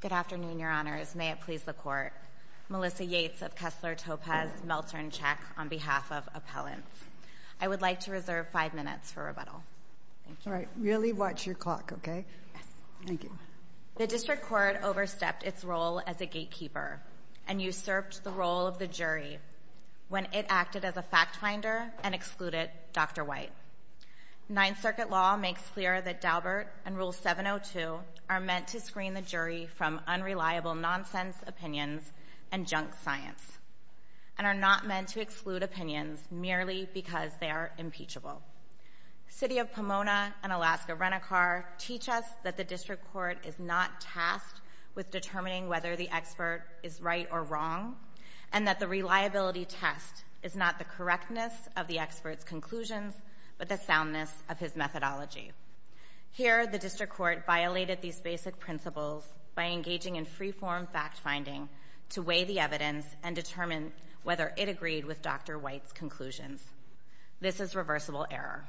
Good afternoon, Your Honors. May it please the Court. Melissa Yates of Kessler Topaz Meltzer & Chek, on behalf of Appellants. I would like to reserve five minutes for rebuttal. All right. Really watch your clock, okay? Yes. Thank you. The District Court overstepped its role as a gatekeeper and usurped the role of the jury when it acted as a fact finder and excluded Dr. White. Ninth Circuit law makes clear that Daubert and Rule 702 are meant to screen the jury from unreliable nonsense opinions and junk science, and are not meant to exclude opinions merely because they are impeachable. City of Pomona and Alaska Renicar teach us that the District Court is not tasked with determining whether the expert is right or wrong, and that the reliability test is not the correctness of the expert's conclusions but the soundness of his methodology. Here, the District Court violated these basic principles by engaging in free-form fact-finding to weigh the evidence and determine whether it agreed with Dr. White's conclusions. This is reversible error.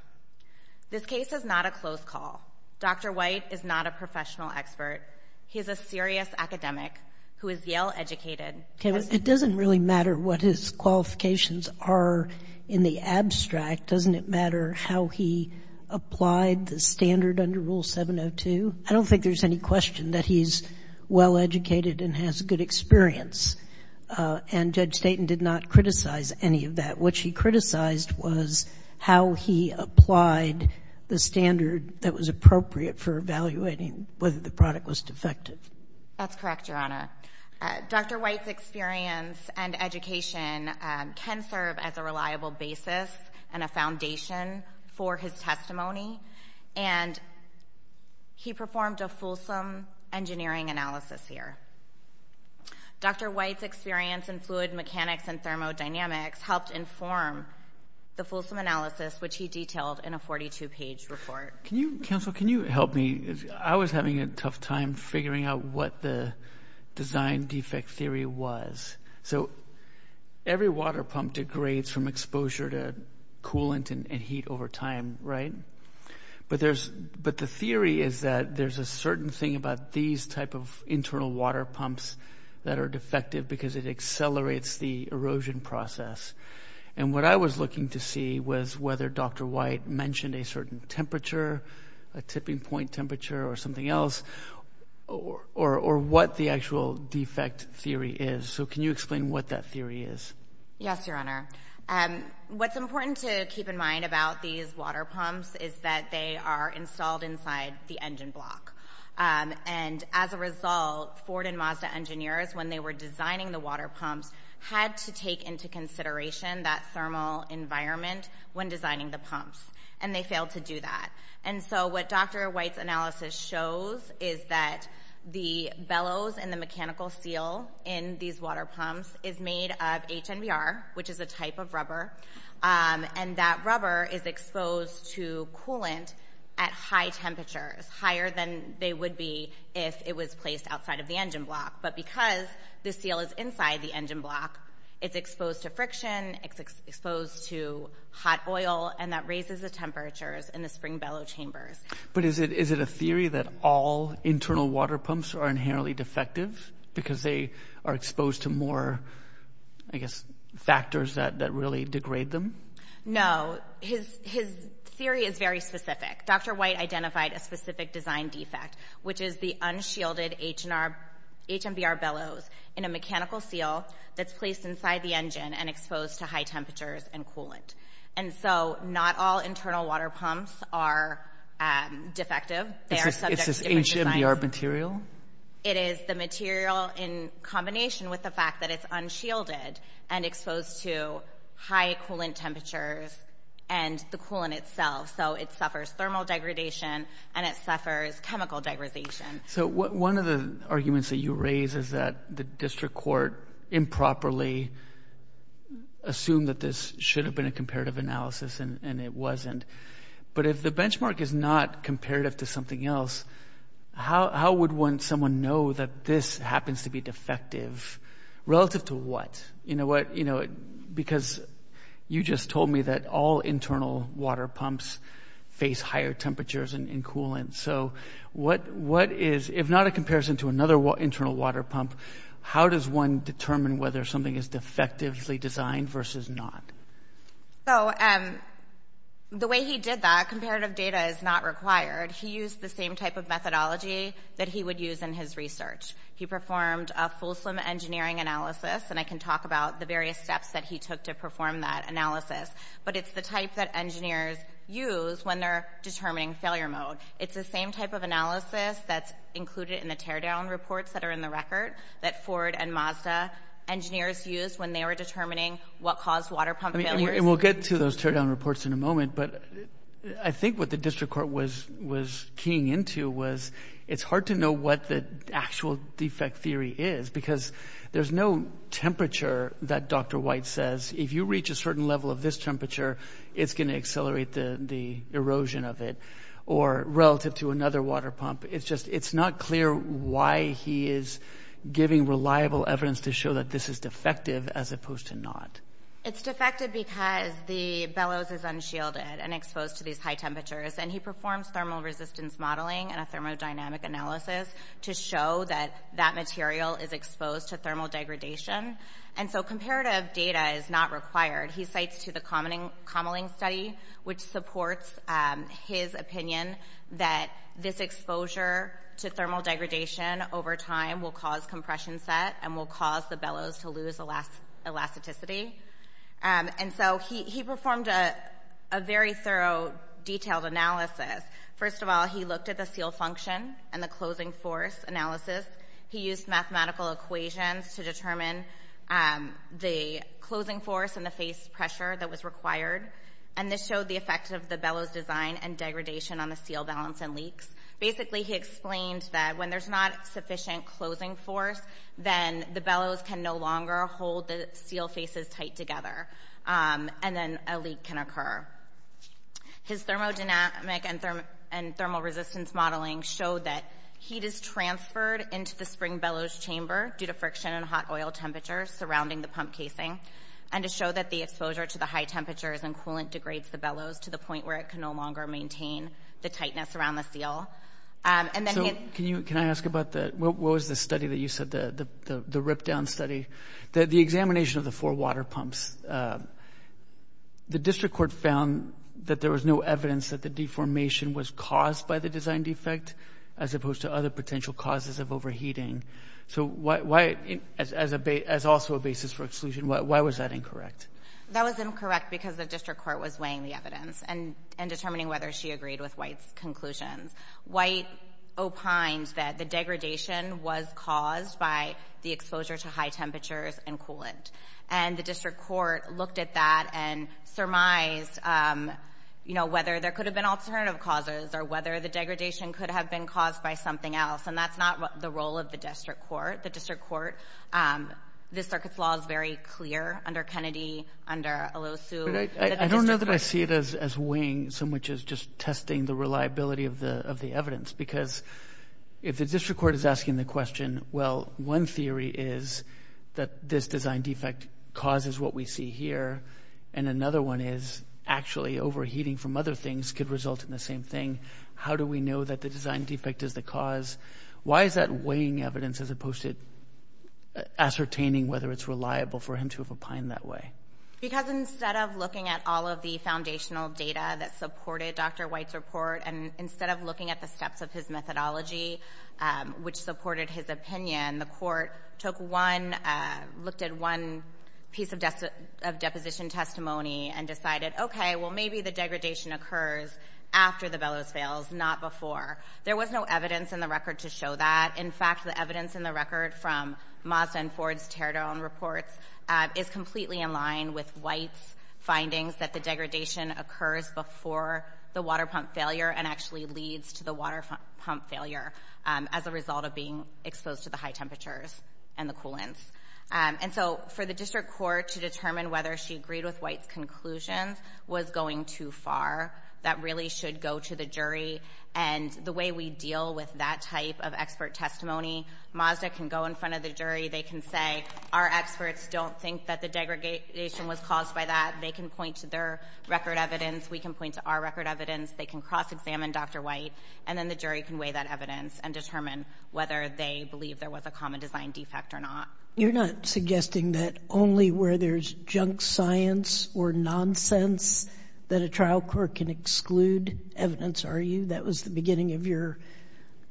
This case is not a close call. Dr. White is not a professional expert. He is a serious academic who is Yale-educated. It doesn't really matter what his qualifications are in the abstract. Doesn't it matter how he applied the standard under Rule 702? I don't think there's any question that he's well-educated and has good experience. And Judge Staton did not criticize any of that. What she criticized was how he applied the standard that was appropriate for evaluating whether the product was defective. That's correct, Your Honor. Dr. White's experience and education can serve as a reliable basis and a foundation for his testimony, and he performed a fulsome engineering analysis here. Dr. White's experience in fluid mechanics and thermodynamics helped inform the fulsome analysis, which he detailed in a 42-page report. Counsel, can you help me? I was having a tough time figuring out what the design defect theory was. So every water pump degrades from exposure to coolant and heat over time, right? But the theory is that there's a certain thing about these type of internal water pumps that are defective because it accelerates the erosion process. And what I was looking to see was whether Dr. White mentioned a certain temperature, a tipping point temperature or something else, or what the actual defect theory is. So can you explain what that theory is? Yes, Your Honor. What's important to keep in mind about these water pumps is that they are installed inside the engine block. And as a result, Ford and Mazda engineers, when they were designing the water pumps, had to take into consideration that thermal environment when designing the water pumps. And they failed to do that. And so what Dr. White's analysis shows is that the bellows and the mechanical seal in these water pumps is made of HNBR, which is a type of rubber. And that rubber is exposed to coolant at high temperatures, higher than they would be if it was placed outside of the engine block. But because the seal is inside the engine block, it's exposed to friction, it's exposed to hot oil, and that raises the temperatures in the spring bellow chambers. But is it a theory that all internal water pumps are inherently defective because they are exposed to more, I guess, factors that really degrade them? No. His theory is very specific. Dr. White identified a specific design defect, which is the unshielded HNBR bellows in a mechanical seal that's placed inside the engine and exposed to high temperatures and coolant. And so not all internal water pumps are defective. They are subject to different designs. Is this HNBR material? It is the material in combination with the fact that it's unshielded and exposed to high coolant temperatures and the coolant itself. So it suffers thermal degradation and it suffers chemical degradation. So one of the arguments that you raise is that the district court improperly assumed that this should have been a comparative analysis and it wasn't. But if the benchmark is not comparative to something else, how would someone know that this happens to be defective relative to what? You know what, because you just told me that all internal water pumps face higher temperatures and coolant. So what is, if not a comparison to another internal water pump, how does one determine whether something is defectively designed versus not? So the way he did that, comparative data is not required. He used the same type of methodology that he would use in his research. He performed a full swim engineering analysis and I can talk about the various steps that he took to perform that analysis. But it's the type that engineers use when they're determining failure mode. It's the same type of analysis that's included in the teardown reports that are in the record that Ford and Mazda engineers used when they were determining what caused water pump failures. And we'll get to those teardown reports in a moment, but I think what the district court was keying into was it's hard to know what the actual defect theory is because there's no temperature that Dr. White says, if you reach a certain level of this temperature, it's going to accelerate the erosion of it or relative to another water pump. It's just, it's not clear why he is giving reliable evidence to show that this is defective as opposed to not. It's defective because the bellows is unshielded and exposed to these high temperatures. And he performs thermal resistance modeling and a thermodynamic analysis to show that that material is exposed to thermal degradation. And so comparative data is not required. He cites to the Kamalingh study, which supports his opinion that this exposure to thermal degradation over time will cause compression set and will cause the bellows to lose elasticity. And so he performed a very thorough detailed analysis. First of all, he looked at the seal function and the closing force analysis. He used mathematical equations to determine the closing force and the face pressure that was required. And this showed the effect of the bellows design and degradation on the seal balance and leaks. Basically, he explained that when there's not sufficient closing force, then the bellows can no longer hold the seal faces tight together. And then a leak can occur. His thermodynamic and thermal resistance modeling showed that heat is transferred into the spring bellows chamber due to friction and hot oil temperatures surrounding the pump casing. And to show that the exposure to the high temperatures and coolant degrades the bellows to the point where it can no longer maintain the tightness around the seal. So, can you, can I ask about the, what was the study that you said, the rip-down study? The examination of the four water pumps. The district court found that there was no evidence that the deformation was caused by the design defect as opposed to other potential causes of overheating. So why, as also a basis for exclusion, why was that incorrect? That was incorrect because the district court was weighing the evidence and determining whether she agreed with White's conclusions. White opined that the degradation was caused by the exposure to high temperatures and coolant. And the district court looked at that and surmised, you know, whether there could have been alternative causes or whether the degradation could have been caused by something else. And that's not the role of the district court. The district court, the circuit's law is very clear under Kennedy, under Elosu. I don't know that I see it as weighing so much as just testing the reliability of the evidence because if the district court is asking the question, well, one theory is that this design defect causes what we see here. And another one is actually overheating from other things could result in the same thing. How do we know that the design defect is the cause? Why is that weighing evidence as opposed to ascertaining whether it's reliable for him to have opined that way? Because instead of looking at all of the foundational data that supported Dr. White's report and instead of looking at the steps of his methodology, which supported his opinion, the court took one, looked at one piece of deposition testimony and decided, okay, well, maybe the degradation occurs after the Bellows fails, not before. There was no evidence in the record to show that. In fact, the evidence in the record from Mazda and Ford's teardown reports is completely in line with White's findings that the degradation occurs before the water pump failure and actually leads to the water pump failure as a result of being exposed to the high temperatures and the coolants. And so for the district court to determine whether she agreed with White's conclusions was going too far. That really should go to the jury. And the way we deal with that type of expert testimony, Mazda can go in front of the jury. They can say, our experts don't think that the degradation was caused by that. They can point to their record evidence. We can point to our record evidence. They can cross-examine Dr. White. And then the jury can weigh that evidence and determine whether they believe there was a common design defect or not. You're not suggesting that only where there's junk science or nonsense that a trial court can exclude evidence, are you? That was the beginning of your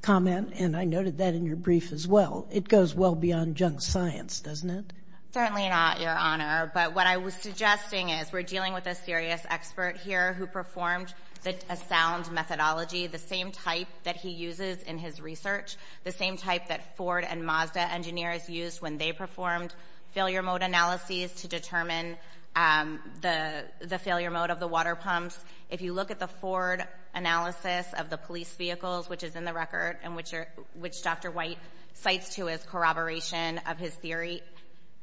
comment, and I noted that in your brief as well. It goes well beyond junk science, doesn't it? Certainly not, Your Honor. But what I was suggesting is we're dealing with a serious expert here who performed a sound methodology, the same type that he uses in his research, the same type that Ford and Mazda engineers used when they performed failure mode analyses to determine the failure mode of the water pumps. If you look at the Ford analysis of the police vehicles, which is in the record, and which Dr. White cites to as corroboration of his theory,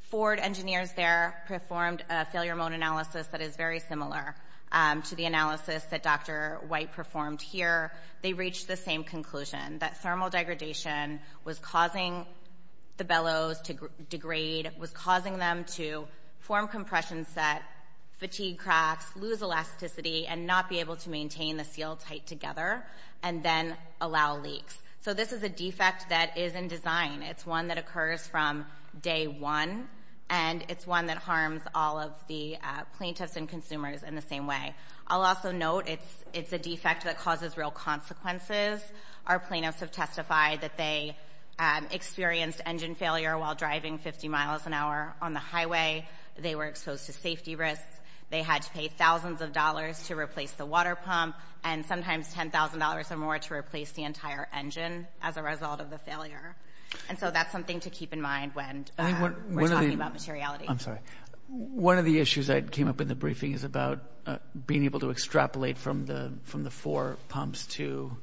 Ford engineers there performed a failure mode analysis that is very similar to the analysis that Dr. White performed here. They reached the same conclusion, that thermal degradation was causing the bellows to degrade, was causing them to form compression sets, fatigue cracks, lose elasticity, and not be able to maintain the seal tight together, and then allow leaks. So this is a defect that is in design. It's one that occurs from day one, and it's one that harms all of the plaintiffs and consumers in the same way. I'll also note it's a defect that causes real consequences. Our plaintiffs have testified that they experienced engine failure while driving 50 miles an hour on the highway. They were exposed to safety risks. They had to pay thousands of dollars to replace the water pump, and sometimes $10,000 or more to replace the entire engine as a result of the failure. And so that's something to keep in mind when we're talking about materiality. One of the issues that came up in the briefing is about being able to extrapolate from the four pumps to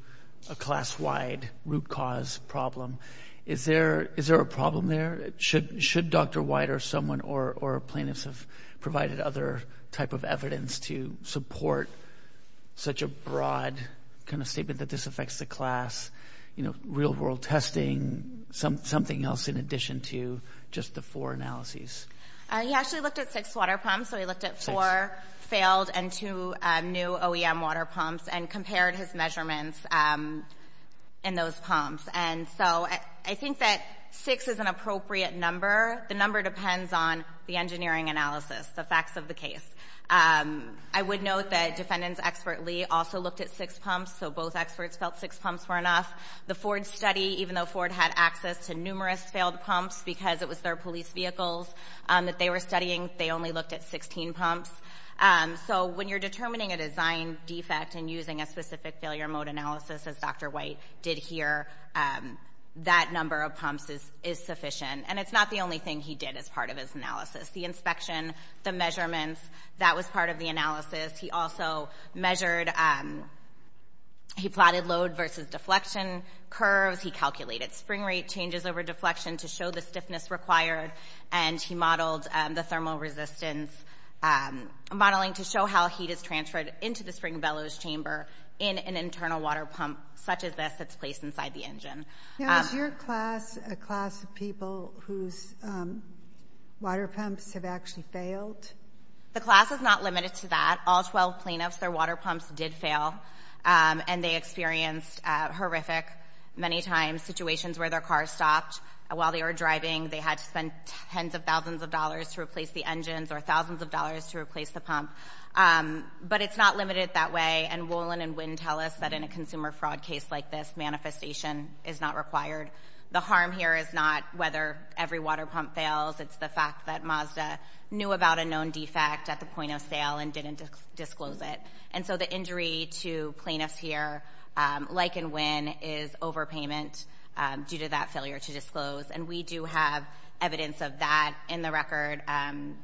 a class-wide root cause problem. Is there a problem there? Should Dr. White or someone or plaintiffs have provided other type of evidence to support such a broad kind of statement that this affects the class, you know, real-world testing, something else in addition to just the four analyses? He actually looked at six water pumps, so he looked at four failed and two new OEM water pumps, and compared his measurements in those pumps. And so I think that six is an appropriate number. The number depends on the engineering analysis, the facts of the case. I would note that defendants expertly also looked at six pumps, so both experts felt six pumps were enough. The Ford study, even though Ford had access to numerous failed pumps because it was their police vehicles that they were studying, they only looked at 16 pumps. So when you're determining a design defect and using a specific failure mode analysis, as Dr. White did here, that number of pumps is sufficient. And it's not the only thing he did as part of his analysis. The inspection, the measurements, that was part of the analysis. He also measured, he plotted load versus deflection curves, he calculated spring rate changes over deflection to show the stiffness required, and he modeled the thermal resistance modeling to show how heat is transferred into the spring bellows chamber in an internal water pump such as this that's placed inside the engine. Now is your class a class of people whose water pumps have actually failed? The class is not limited to that. All 12 cleanups, their water pumps did fail, and they experienced horrific, many times, situations where their car stopped while they were driving. They had to spend tens of thousands of dollars to replace the engines or thousands of dollars to replace the pump. But it's not limited that way, and Wolin and Winn tell us that in a consumer fraud case like this, manifestation is not required. The harm here is not whether every water pump fails, it's the fact that Mazda knew about a known defect at the point of sale and didn't disclose it. And so the injury to cleanups here, like in Winn, is overpayment due to that failure to disclose. And we do have evidence of that in the record.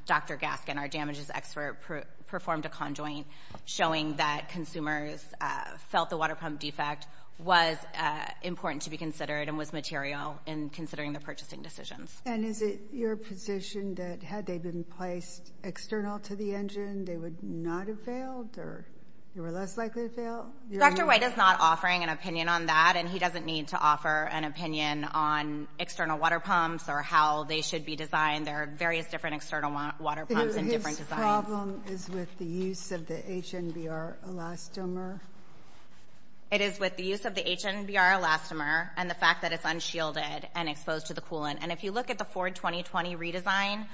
Dr. Gaskin, our damages expert, performed a conjoint showing that consumers felt the water pump defect was important to be considered and was material in considering the purchasing decisions. And is it your position that had they been placed external to the engine, they would not have failed, or you were less likely to fail? Dr. White is not offering an opinion on that, and he doesn't need to offer an opinion on external water pumps or how they should be designed. There are various different external water pumps and different designs. His problem is with the use of the HNBR elastomer? It is with the use of the HNBR elastomer and the fact that it's unshielded and exposed to the coolant. And if you look at the Ford 2020 redesign,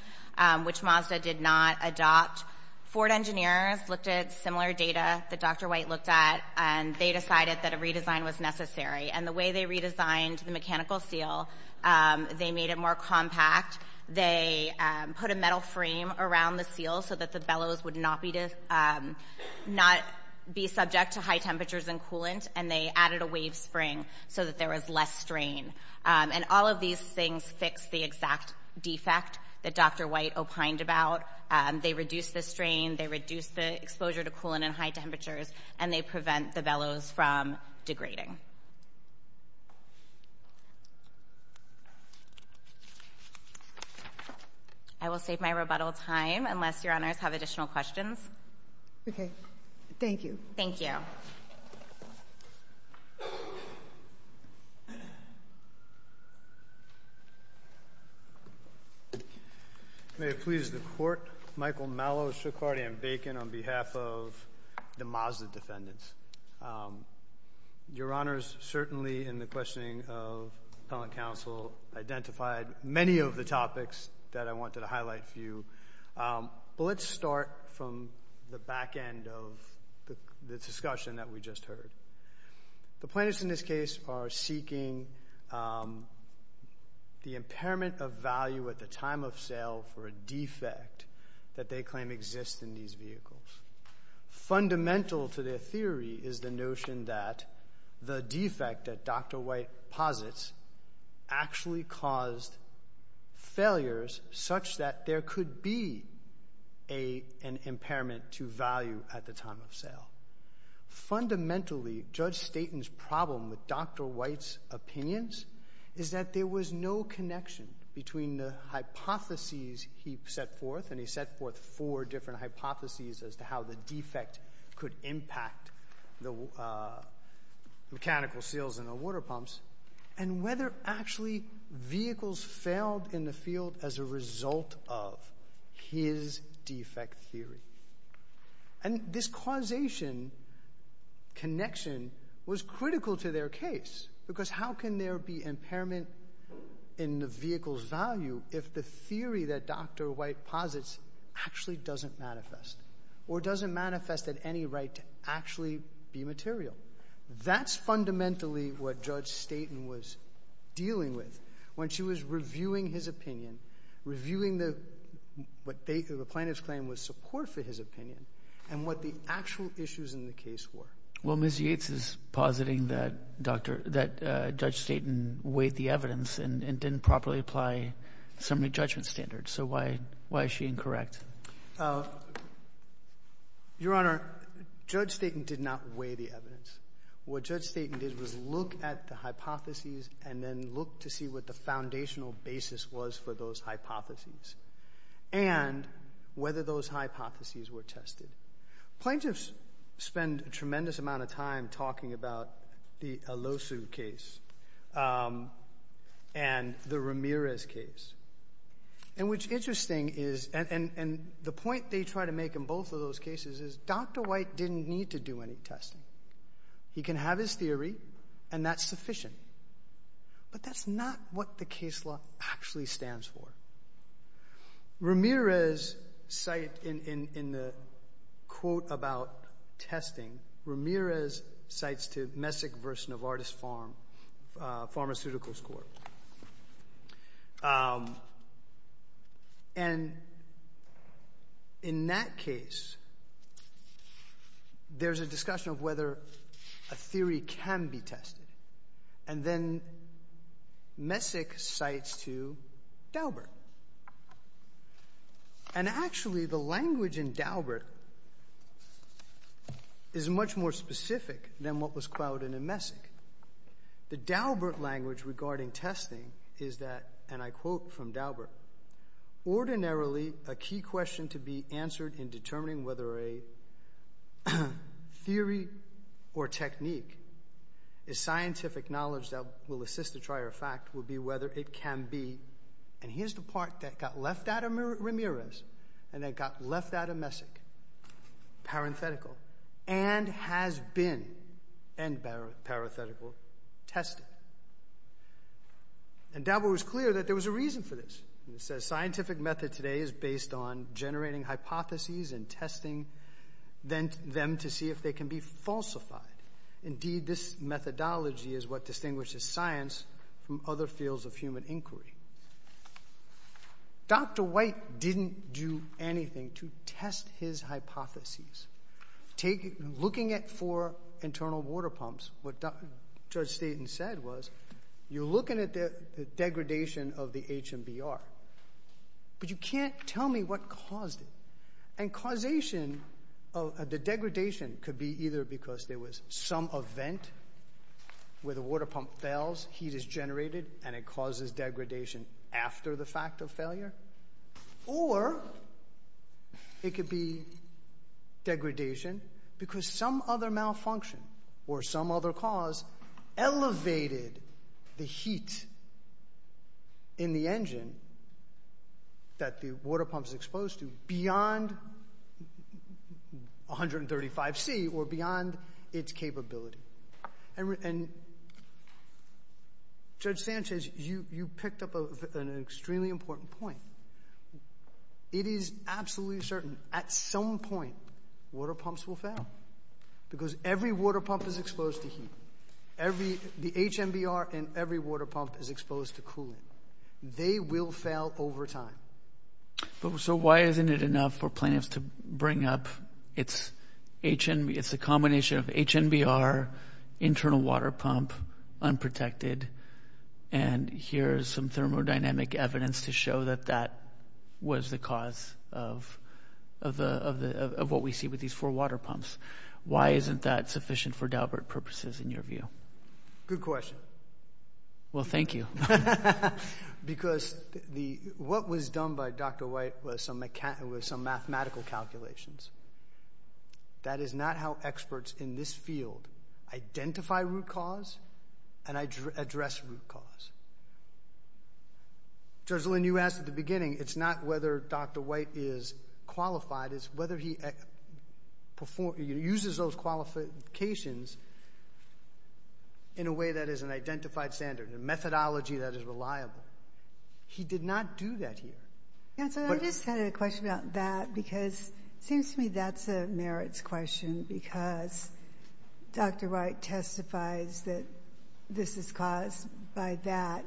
which Mazda did not adopt, Ford engineers looked at similar data that Dr. White looked at, and they decided that redesign was necessary. And the way they redesigned the mechanical seal, they made it more compact. They put a metal frame around the seal so that the bellows would not be subject to high temperatures and coolant, and they added a wave spring so that there was less strain. And all of these things fixed the exact defect that Dr. White opined about. They reduced the strain, they reduced the exposure to coolant in high temperatures, and they prevent the bellows from degrading. I will save my rebuttal time unless Your Honors have additional questions. Okay. Thank you. Thank you. May it please the Court. Michael Mello, Shook, Hardy, and Bacon on behalf of the Mazda defendants. Your Honors, certainly in the questioning of Appellant Counsel, identified many of the topics that I wanted to highlight for you. But let's start from the back end of the discussion that we just heard. The plaintiffs in this case are seeking the impairment of value at the time of sale for a defect that they claim exists in these vehicles. Fundamental to their theory is the notion that the defect that Dr. White posits actually caused failures such that there could be an impairment to value at the time of sale. Fundamentally, Judge Staten's problem with Dr. White's opinions is that there was no connection between the hypotheses he set forth, and he set forth four different hypotheses as to how the defect could impact the mechanical seals in the water pumps, and whether actually vehicles failed in the field as a result of his defect theory. And this causation connection was critical to their case, because how can there be impairment in the vehicle's value if the theory that Dr. White posits actually doesn't manifest, or doesn't manifest at any rate to actually be material? That's fundamentally what Judge Staten was dealing with when she was reviewing his opinion, reviewing what the plaintiffs claimed was support for his opinion, and what the actual issues in the case were. Well, Ms. Yates is positing that Judge Staten weighed the evidence and didn't properly apply the Assembly Judgment Standards, so why is she incorrect? Your Honor, Judge Staten did not weigh the evidence. What Judge Staten did was look at the hypotheses and then look to see what the foundational basis was for those hypotheses, and whether those hypotheses were tested. Plaintiffs spend a tremendous amount of time talking about the Alosu case and the Ramirez case. And what's interesting is, and the point they try to make in both of those cases is, Dr. White didn't need to do any testing. He can have his theory, and that's sufficient. But that's not what the case law actually stands for. Ramirez cites, in the quote about testing, Ramirez cites to Messick v. Novartis Pharmaceuticals Court. And in that case, there's a discussion of whether a theory can be tested. And then Messick cites to Daubert. And actually, the language in Daubert is much more specific than what was clouded in Messick. The Daubert language regarding testing is that, and I quote from Daubert, ordinarily a key question to be answered in determining whether a theory or technique is scientific knowledge that will assist the trier of fact, will be whether it can be, and here's the part that got left out of Ramirez, and that got left out of Messick, parenthetical, and has been, end parenthetical, tested. And Daubert was clear that there was a reason for this. He says, scientific method today is based on generating hypotheses and testing, them to see if they can be falsified. Indeed, this methodology is what distinguishes science from other fields of human inquiry. Dr. White didn't do anything to test his hypotheses. Looking at four internal water pumps, what Judge Staten said was, you're looking at the degradation of the HMBR, but you can't tell me what caused it. And causation of the degradation could be either because there was some event where the water pump fails, heat is generated, and it causes degradation after the fact of failure, or it could be degradation because some other malfunction, or some other cause, elevated the heat in the engine that the water pump is exposed to beyond 135 C, or beyond its capability. And Judge Staten says, you picked up an extremely important point. It is absolutely certain, at some point, water pumps will fail. Because every water pump is exposed to heat. Every, the HMBR and every water pump is exposed to cooling. They will fail over time. So why isn't it enough for plaintiffs to bring up, it's HM, it's a combination of HMBR, internal water pump, unprotected, and here's some thermodynamic evidence to show that that was the cause of what we see with these four water pumps. Why isn't that sufficient for Daubert purposes, in your view? Good question. Well, thank you. Because what was done by Dr. White was some mathematical calculations. That is not how experts in this field identify root cause and address root cause. Judge Lynn, you asked at the beginning, it's not whether Dr. White is qualified, it's whether he uses those qualifications in a way that is an identified standard, a methodology that is identified. I'm not sure I understand that. Because it seems to me that's a merits question. Because Dr. White testifies that this is caused by that.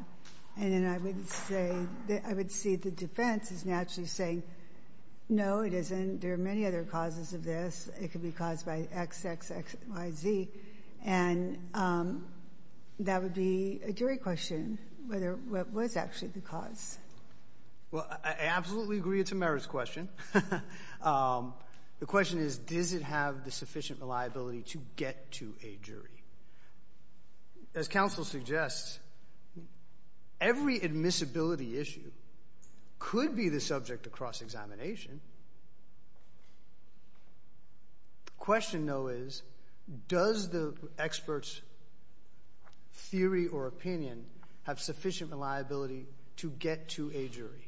And then I would say, I would see the defense as naturally saying, no, it isn't. There are many other causes of this. It could be caused by X, X, X, Y, Z. And that would be a jury question, whether it was actually the cause. Well, I absolutely agree it's a merits question. The question is, does it have the sufficient reliability to get to a jury? As counsel suggests, every admissibility issue could be the subject of cross-examination. The question, though, is, does the expert's theory or opinion have sufficient reliability to get to a jury?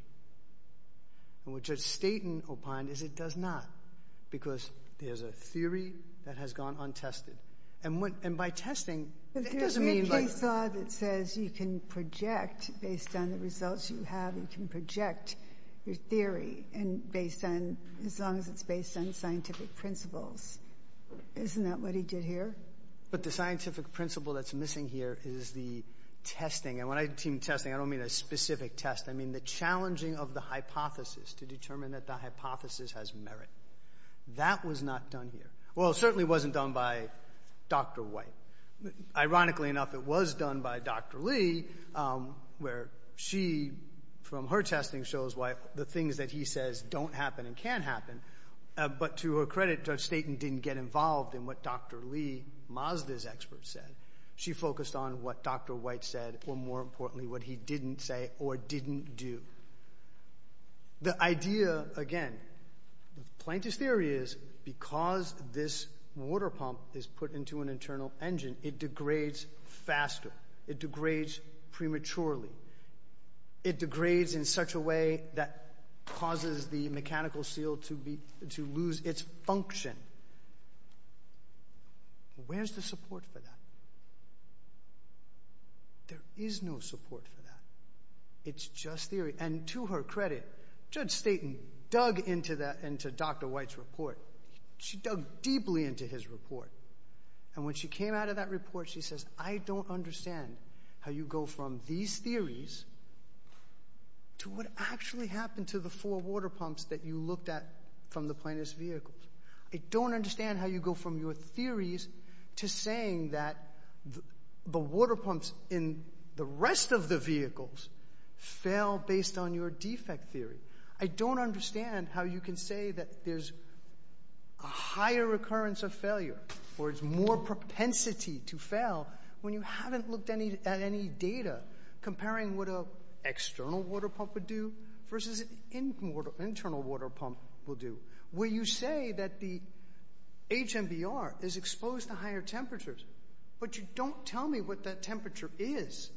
And what Judge Staten opined is it does not. Because there's a theory that has gone untested. And by testing, it doesn't mean... There's a case law that says you can project, based on the results you have, you can project your theory and based on, as long as it's based on scientific principles. Isn't that what he did here? But the scientific principle that's missing here is the testing. And when I team testing, I don't mean a specific test. I mean the challenging of the hypothesis to determine that the hypothesis has merit. That was not done here. Well, it certainly wasn't done by Dr. White. Ironically enough, it was done by Dr. Lee, where she, from her testing, shows why the things that he says don't happen and can happen. But to her credit, Judge Staten didn't get involved in what Dr. Lee, Mazda's expert, said. She focused on what Dr. White said, or more importantly, what he didn't say or didn't do. The idea, again, the plaintiff's theory is, because this water pump is put into an internal engine, it degrades faster. It degrades prematurely. It degrades in such a way that causes the mechanical seal to lose its function. Where's the support for that? There is no support for that. It's just theory. And to her credit, Judge Staten dug into Dr. White's report. She dug deeply into his report. And when she came out of that report, she says, I don't understand how you go from these theories to what actually happened to the four water pumps that you looked at from the plaintiff's vehicles. I don't understand how you go from your theories to saying that the water pumps in the rest of the vehicles fail based on your defect theory. I don't understand how you can say that there's a higher recurrence of failure, or it's more propensity to fail, when you haven't looked at any data comparing what an external water pump would do versus what an internal water pump would do, where you say that the HMBR is exposed to higher temperatures, but you don't tell me what that temperature is.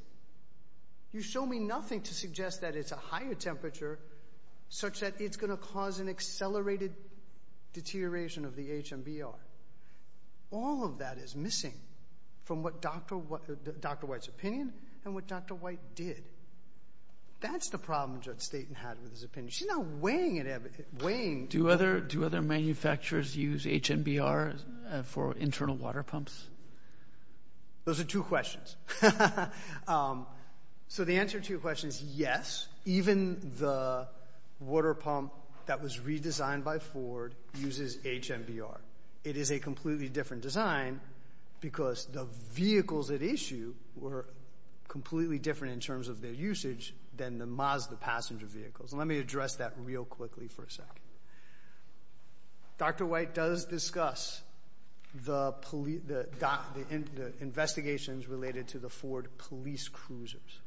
You show me nothing to suggest that it's a higher temperature, such that it's going to cause an accelerated deterioration of the HMBR. All of that is missing from what Dr. White's opinion and what Dr. White did. That's the problem Judge Staten had with his opinion. She's not weighing it. Do other manufacturers use HMBRs for internal water pumps? Those are two questions. So the answer to your question is yes. Even the water pump that was redesigned by Ford uses HMBR. It is a completely different design because the vehicles at issue were completely different in terms of their usage than the Mazda passenger vehicles. Let me address that real quickly for a second. Dr. White does discuss the investigations related to the Ford police cruisers.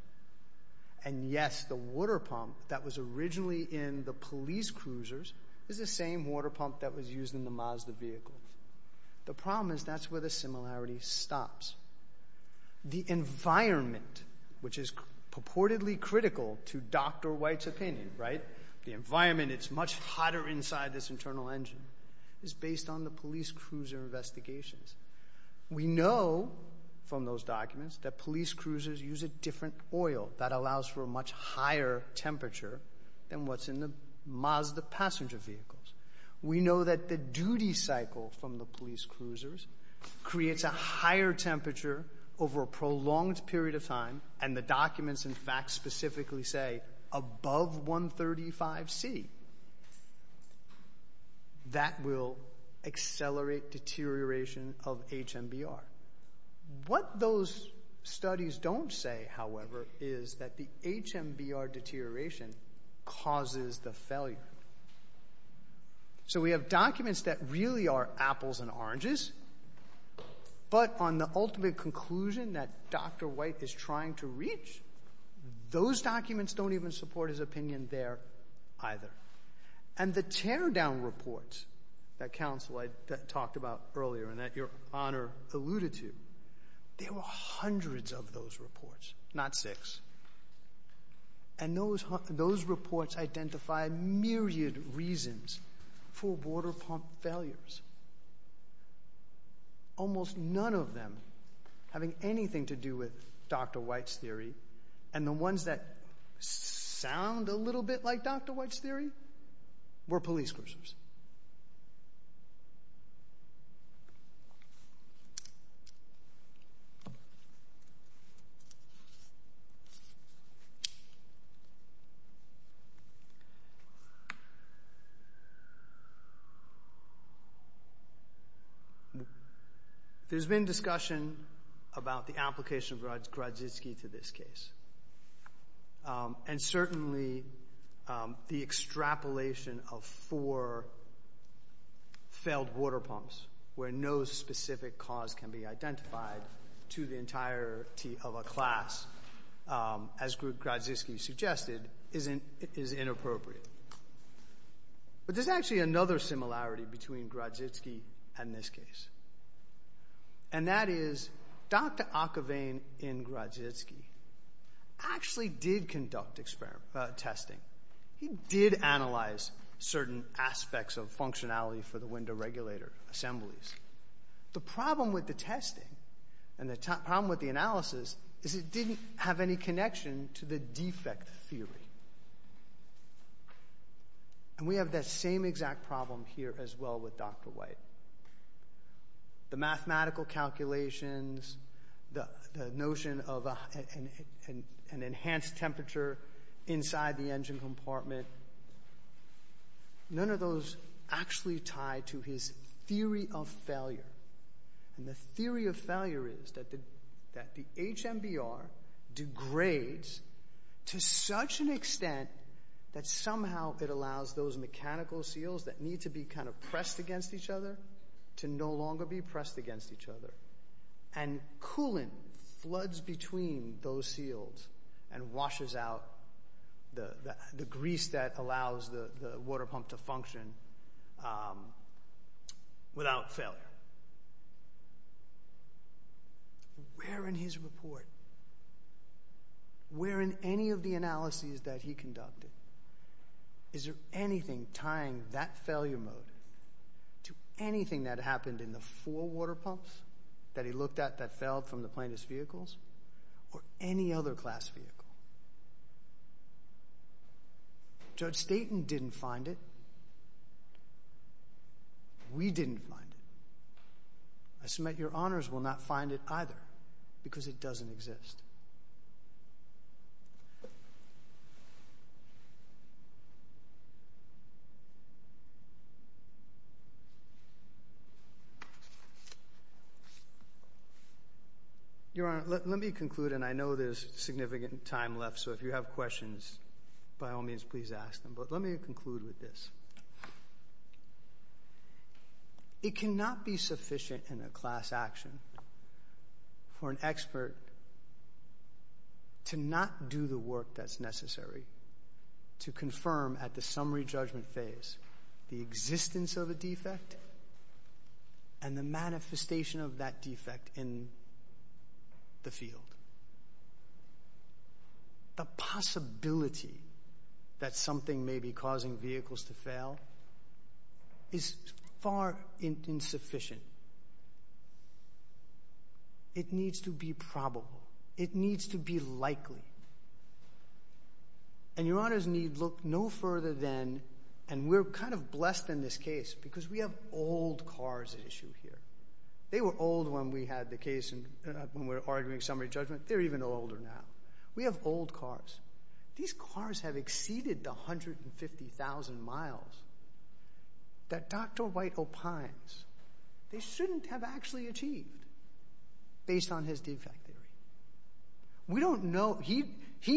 And yes, the water pump that was originally in the police cruisers is the same water pump that was used in the Mazda vehicle. The problem is that's where the similarity stops. The environment, which is purportedly critical to Dr. White's opinion, right? The environment, it's much hotter inside this based on the police cruiser investigations. We know from those documents that police cruisers use a different oil that allows for a much higher temperature than what's in the Mazda passenger vehicle. That will accelerate deterioration of HMBR. What those studies don't say, however, is that the HMBR deterioration causes the failure. So we have documents that really are apples and oranges, but on the ultimate conclusion that Dr. White is trying to reach, those documents don't even support his opinion there either. And the teardown reports that counsel talked about earlier and that your Honor alluded to, there were hundreds of those reports, not six. And those reports identified myriad reasons for water pump failures. Almost none of them having anything to do with Dr. White's theory and the ones that sound a little bit like Dr. White's theory were police cruisers. There's been discussion about the application of Grodziski to this case. And certainly the extrapolation of four failed water pumps where no specific cause can be identified to the entirety of a class, as Grodziski suggested, is inappropriate. But there's actually another similarity between Grodziski and this case. And that is, Dr. Ockervane in Grodziski actually did conduct testing. He did analyze certain aspects of functionality for the window regulator assemblies. The problem with the testing and the problem with the analysis is it didn't have any connection to the defect theory. And we have that same exact problem here as well with Dr. White. The mathematical calculations, the notion of an enhanced temperature inside the engine compartment, none of those actually tie to his theory of failure. And the theory of failure is that the HMBR degrades to such an extent that somehow it allows those mechanical seals that need to be kind of pressed against each other to no longer be pressed against each other. And coolant floods between those seals and washes out the grease that allows the water pump to function without failure. Where in his report, where in any of the analyses that he conducted, is there anything tying that failure mode to anything that happened in the four water pumps that he looked at that failed from the plaintiff's vehicles or any other class vehicle? Judge Staten didn't find it. We didn't find it. I submit your honors will not find it either because it doesn't exist. Your Honor, let me conclude. And I know there's significant time left. So if you have questions, by all means, please ask them. But let me conclude with this. It cannot be sufficient in a class action for an expert to not do the work that's necessary to confirm at the summary judgment phase the existence of a defect and the manifestation of that defect in the field. The possibility that something may be causing vehicles to fail is far insufficient. It needs to be probable. It needs to be likely. And your honors need look no further than, and we're kind of blessed in this case because we have old cars at issue here. They were old when we had the case when we were arguing summary judgment. They're even older now. We have old cars. These cars have exceeded the 150,000 miles that Dr. White opines they shouldn't have actually achieved based on his defective. We don't know. He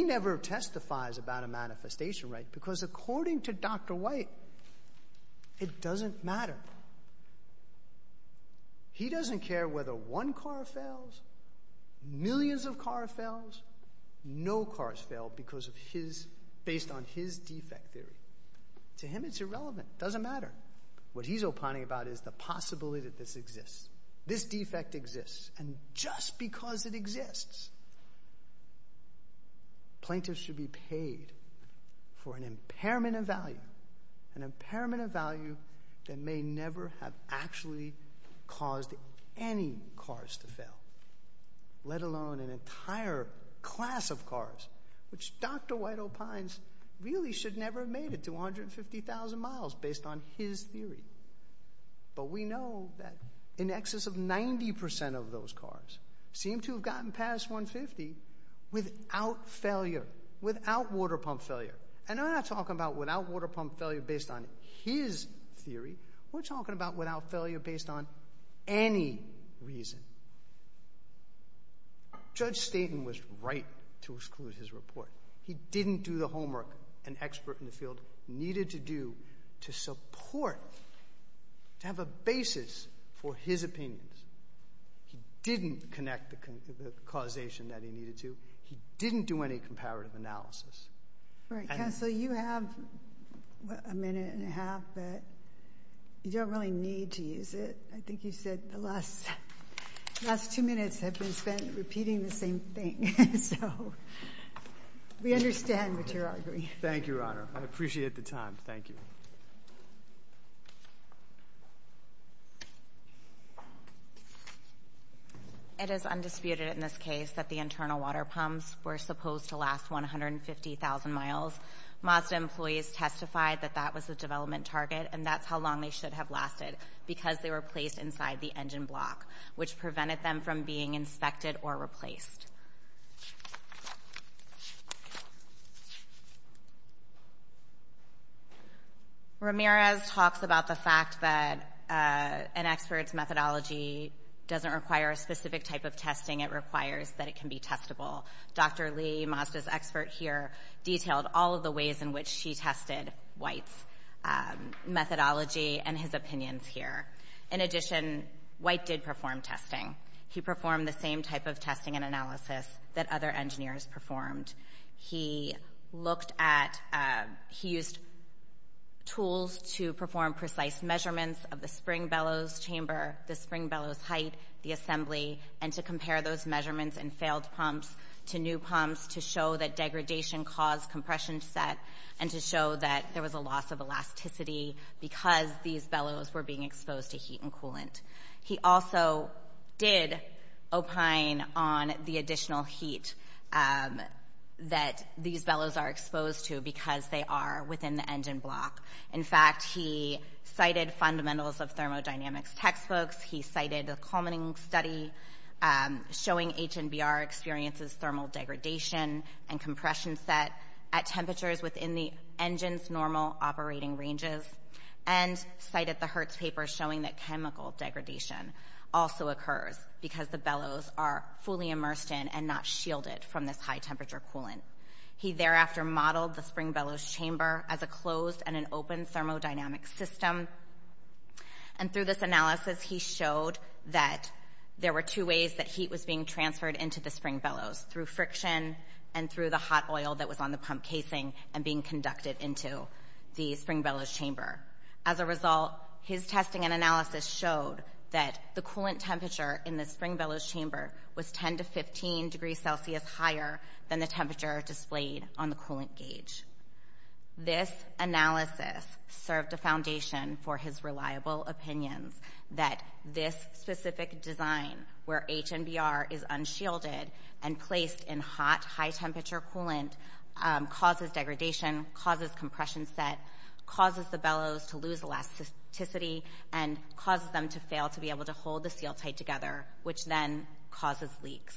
never testifies about a manifestation, right? Because according to Dr. White, it doesn't matter. He doesn't care whether one car fails, millions of cars fail, no cars fail based on his defective. To him, it's irrelevant. It doesn't matter. What he's opining about is the possibility that this exists. This defect exists. And just because it exists, plaintiffs should be paid for an impairment of value, an impairment of value that may never have actually caused any cars to fail, let alone an entire class of cars, which Dr. White opines really should never have made it. They've made it to 150,000 miles based on his theory. But we know that in excess of 90% of those cars seem to have gotten past 150 without failure, without water pump failure. And we're not talking about without water pump failure based on his theory. We're talking about without failure based on any reason. Judge Staten was right to exclude his report. He didn't do the homework an expert in the field needed to do to support, to have a basis for his opinions. He didn't connect the causation that he needed to. He didn't do any comparative analysis. So you have a minute and a half, but you don't really need to use it. I think you said the last last two minutes have been spent repeating the same thing. So we understand what you're arguing. Thank you. I appreciate the time. Thank you. It is undisputed in this case that the internal water pumps were supposed to last 150,000 miles. Mazda employees testified that that was the development target, and that's how long they should have lasted, because they were placed inside the engine block, which prevented them from being inspected or replaced. Ramirez talks about the fact that an expert's methodology doesn't require a specific type of testing. It requires that it can be testable. Dr. Lee, Mazda's expert here, detailed all of the ways in which she tested White's methodology and his opinions here. In addition, White did perform testing. He performed the same type of testing and analysis that other engineers performed. He used tools to perform precise measurements of the spring bellows chamber, the spring bellows height, the assembly, and to compare those measurements in failed pumps to new pumps to show that degradation caused compression set and to show that there was a loss of elasticity because these bellows were being exposed to water. He also did opine on the additional heat that these bellows are exposed to because they are within the engine block. In fact, he cited fundamentals of thermodynamics textbooks. He cited a culminating study showing HNBR experiences thermal degradation and compression set at temperatures within the engine's normal operating ranges. And cited the Hertz paper showing that chemical degradation also occurs because the bellows are fully immersed in and not shielded from this high temperature coolant. He thereafter modeled the spring bellows chamber as a closed and an open thermodynamic system. And through this analysis, he showed that there were two ways that heat was being transferred into the spring bellows, through friction and through the hot oil that was on the pump casing and being conducted into the spring bellows chamber. As a result, his testing and analysis showed that the coolant temperature in the spring bellows chamber was 10 to 15 degrees Celsius higher than the temperature displayed on the coolant gauge. This analysis served a foundation for his reliable opinions that this specific design where HNBR is unshielded and placed in hot, high temperature coolant causes degradation, causes compression set, causes the bellows to lose elasticity and causes them to fail to be able to hold the seal tight together, which then causes leaks.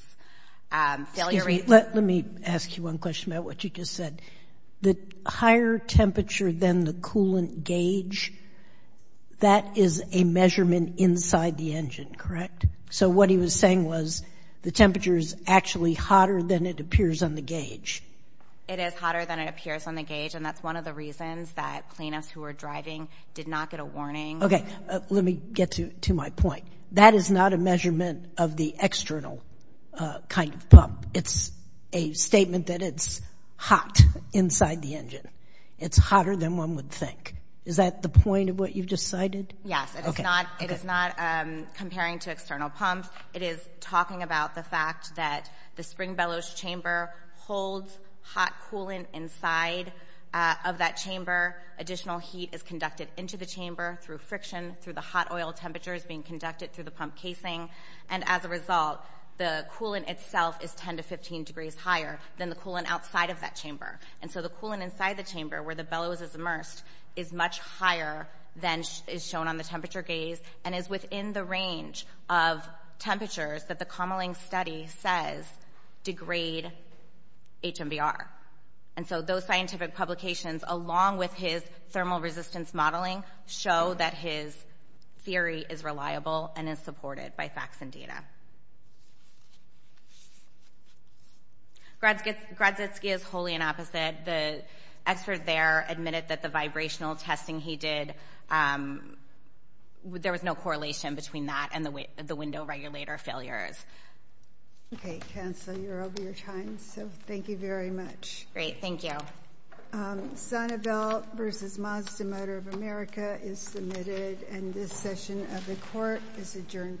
Let me ask you one question about what you just said. The higher temperature than the coolant gauge, that is a measurement inside the engine, correct? So what he was saying was the temperature is actually hotter than it appears on the gauge. It is hotter than it appears on the gauge, and that's one of the reasons that cleanups who were driving did not get a warning. Okay. Let me get to my point. That is not a measurement of the external kind of pump. It's a statement that it's hot inside the engine. It's hotter than one would think. Is that the point of what you've just cited? Yes. It is not comparing to external pumps. It is talking about the fact that the spring bellows chamber holds hot coolant inside of that chamber. Additional heat is conducted into the chamber through friction, through the hot oil temperatures being conducted through the pump casing. As a result, the coolant itself is 10 to 15 degrees higher than the coolant outside of that chamber. The coolant inside the chamber where the bellows is immersed is much higher than is shown on the temperature gauge and is within the range of temperatures that the Kamalingh study says degrade HMBR. Those scientific publications, along with his thermal resistance modeling, show that his theory is reliable and is supported by facts and data. Gradsitsky is wholly in opposite. The expert there admitted that the vibrational testing he did, there was no correlation between that and the window regulator failures. Okay. Counsel, you're over your time, so thank you very much. Great. Thank you. Senate Bill versus Mazda Motor of America is submitted and this session of the court is adjourned for today.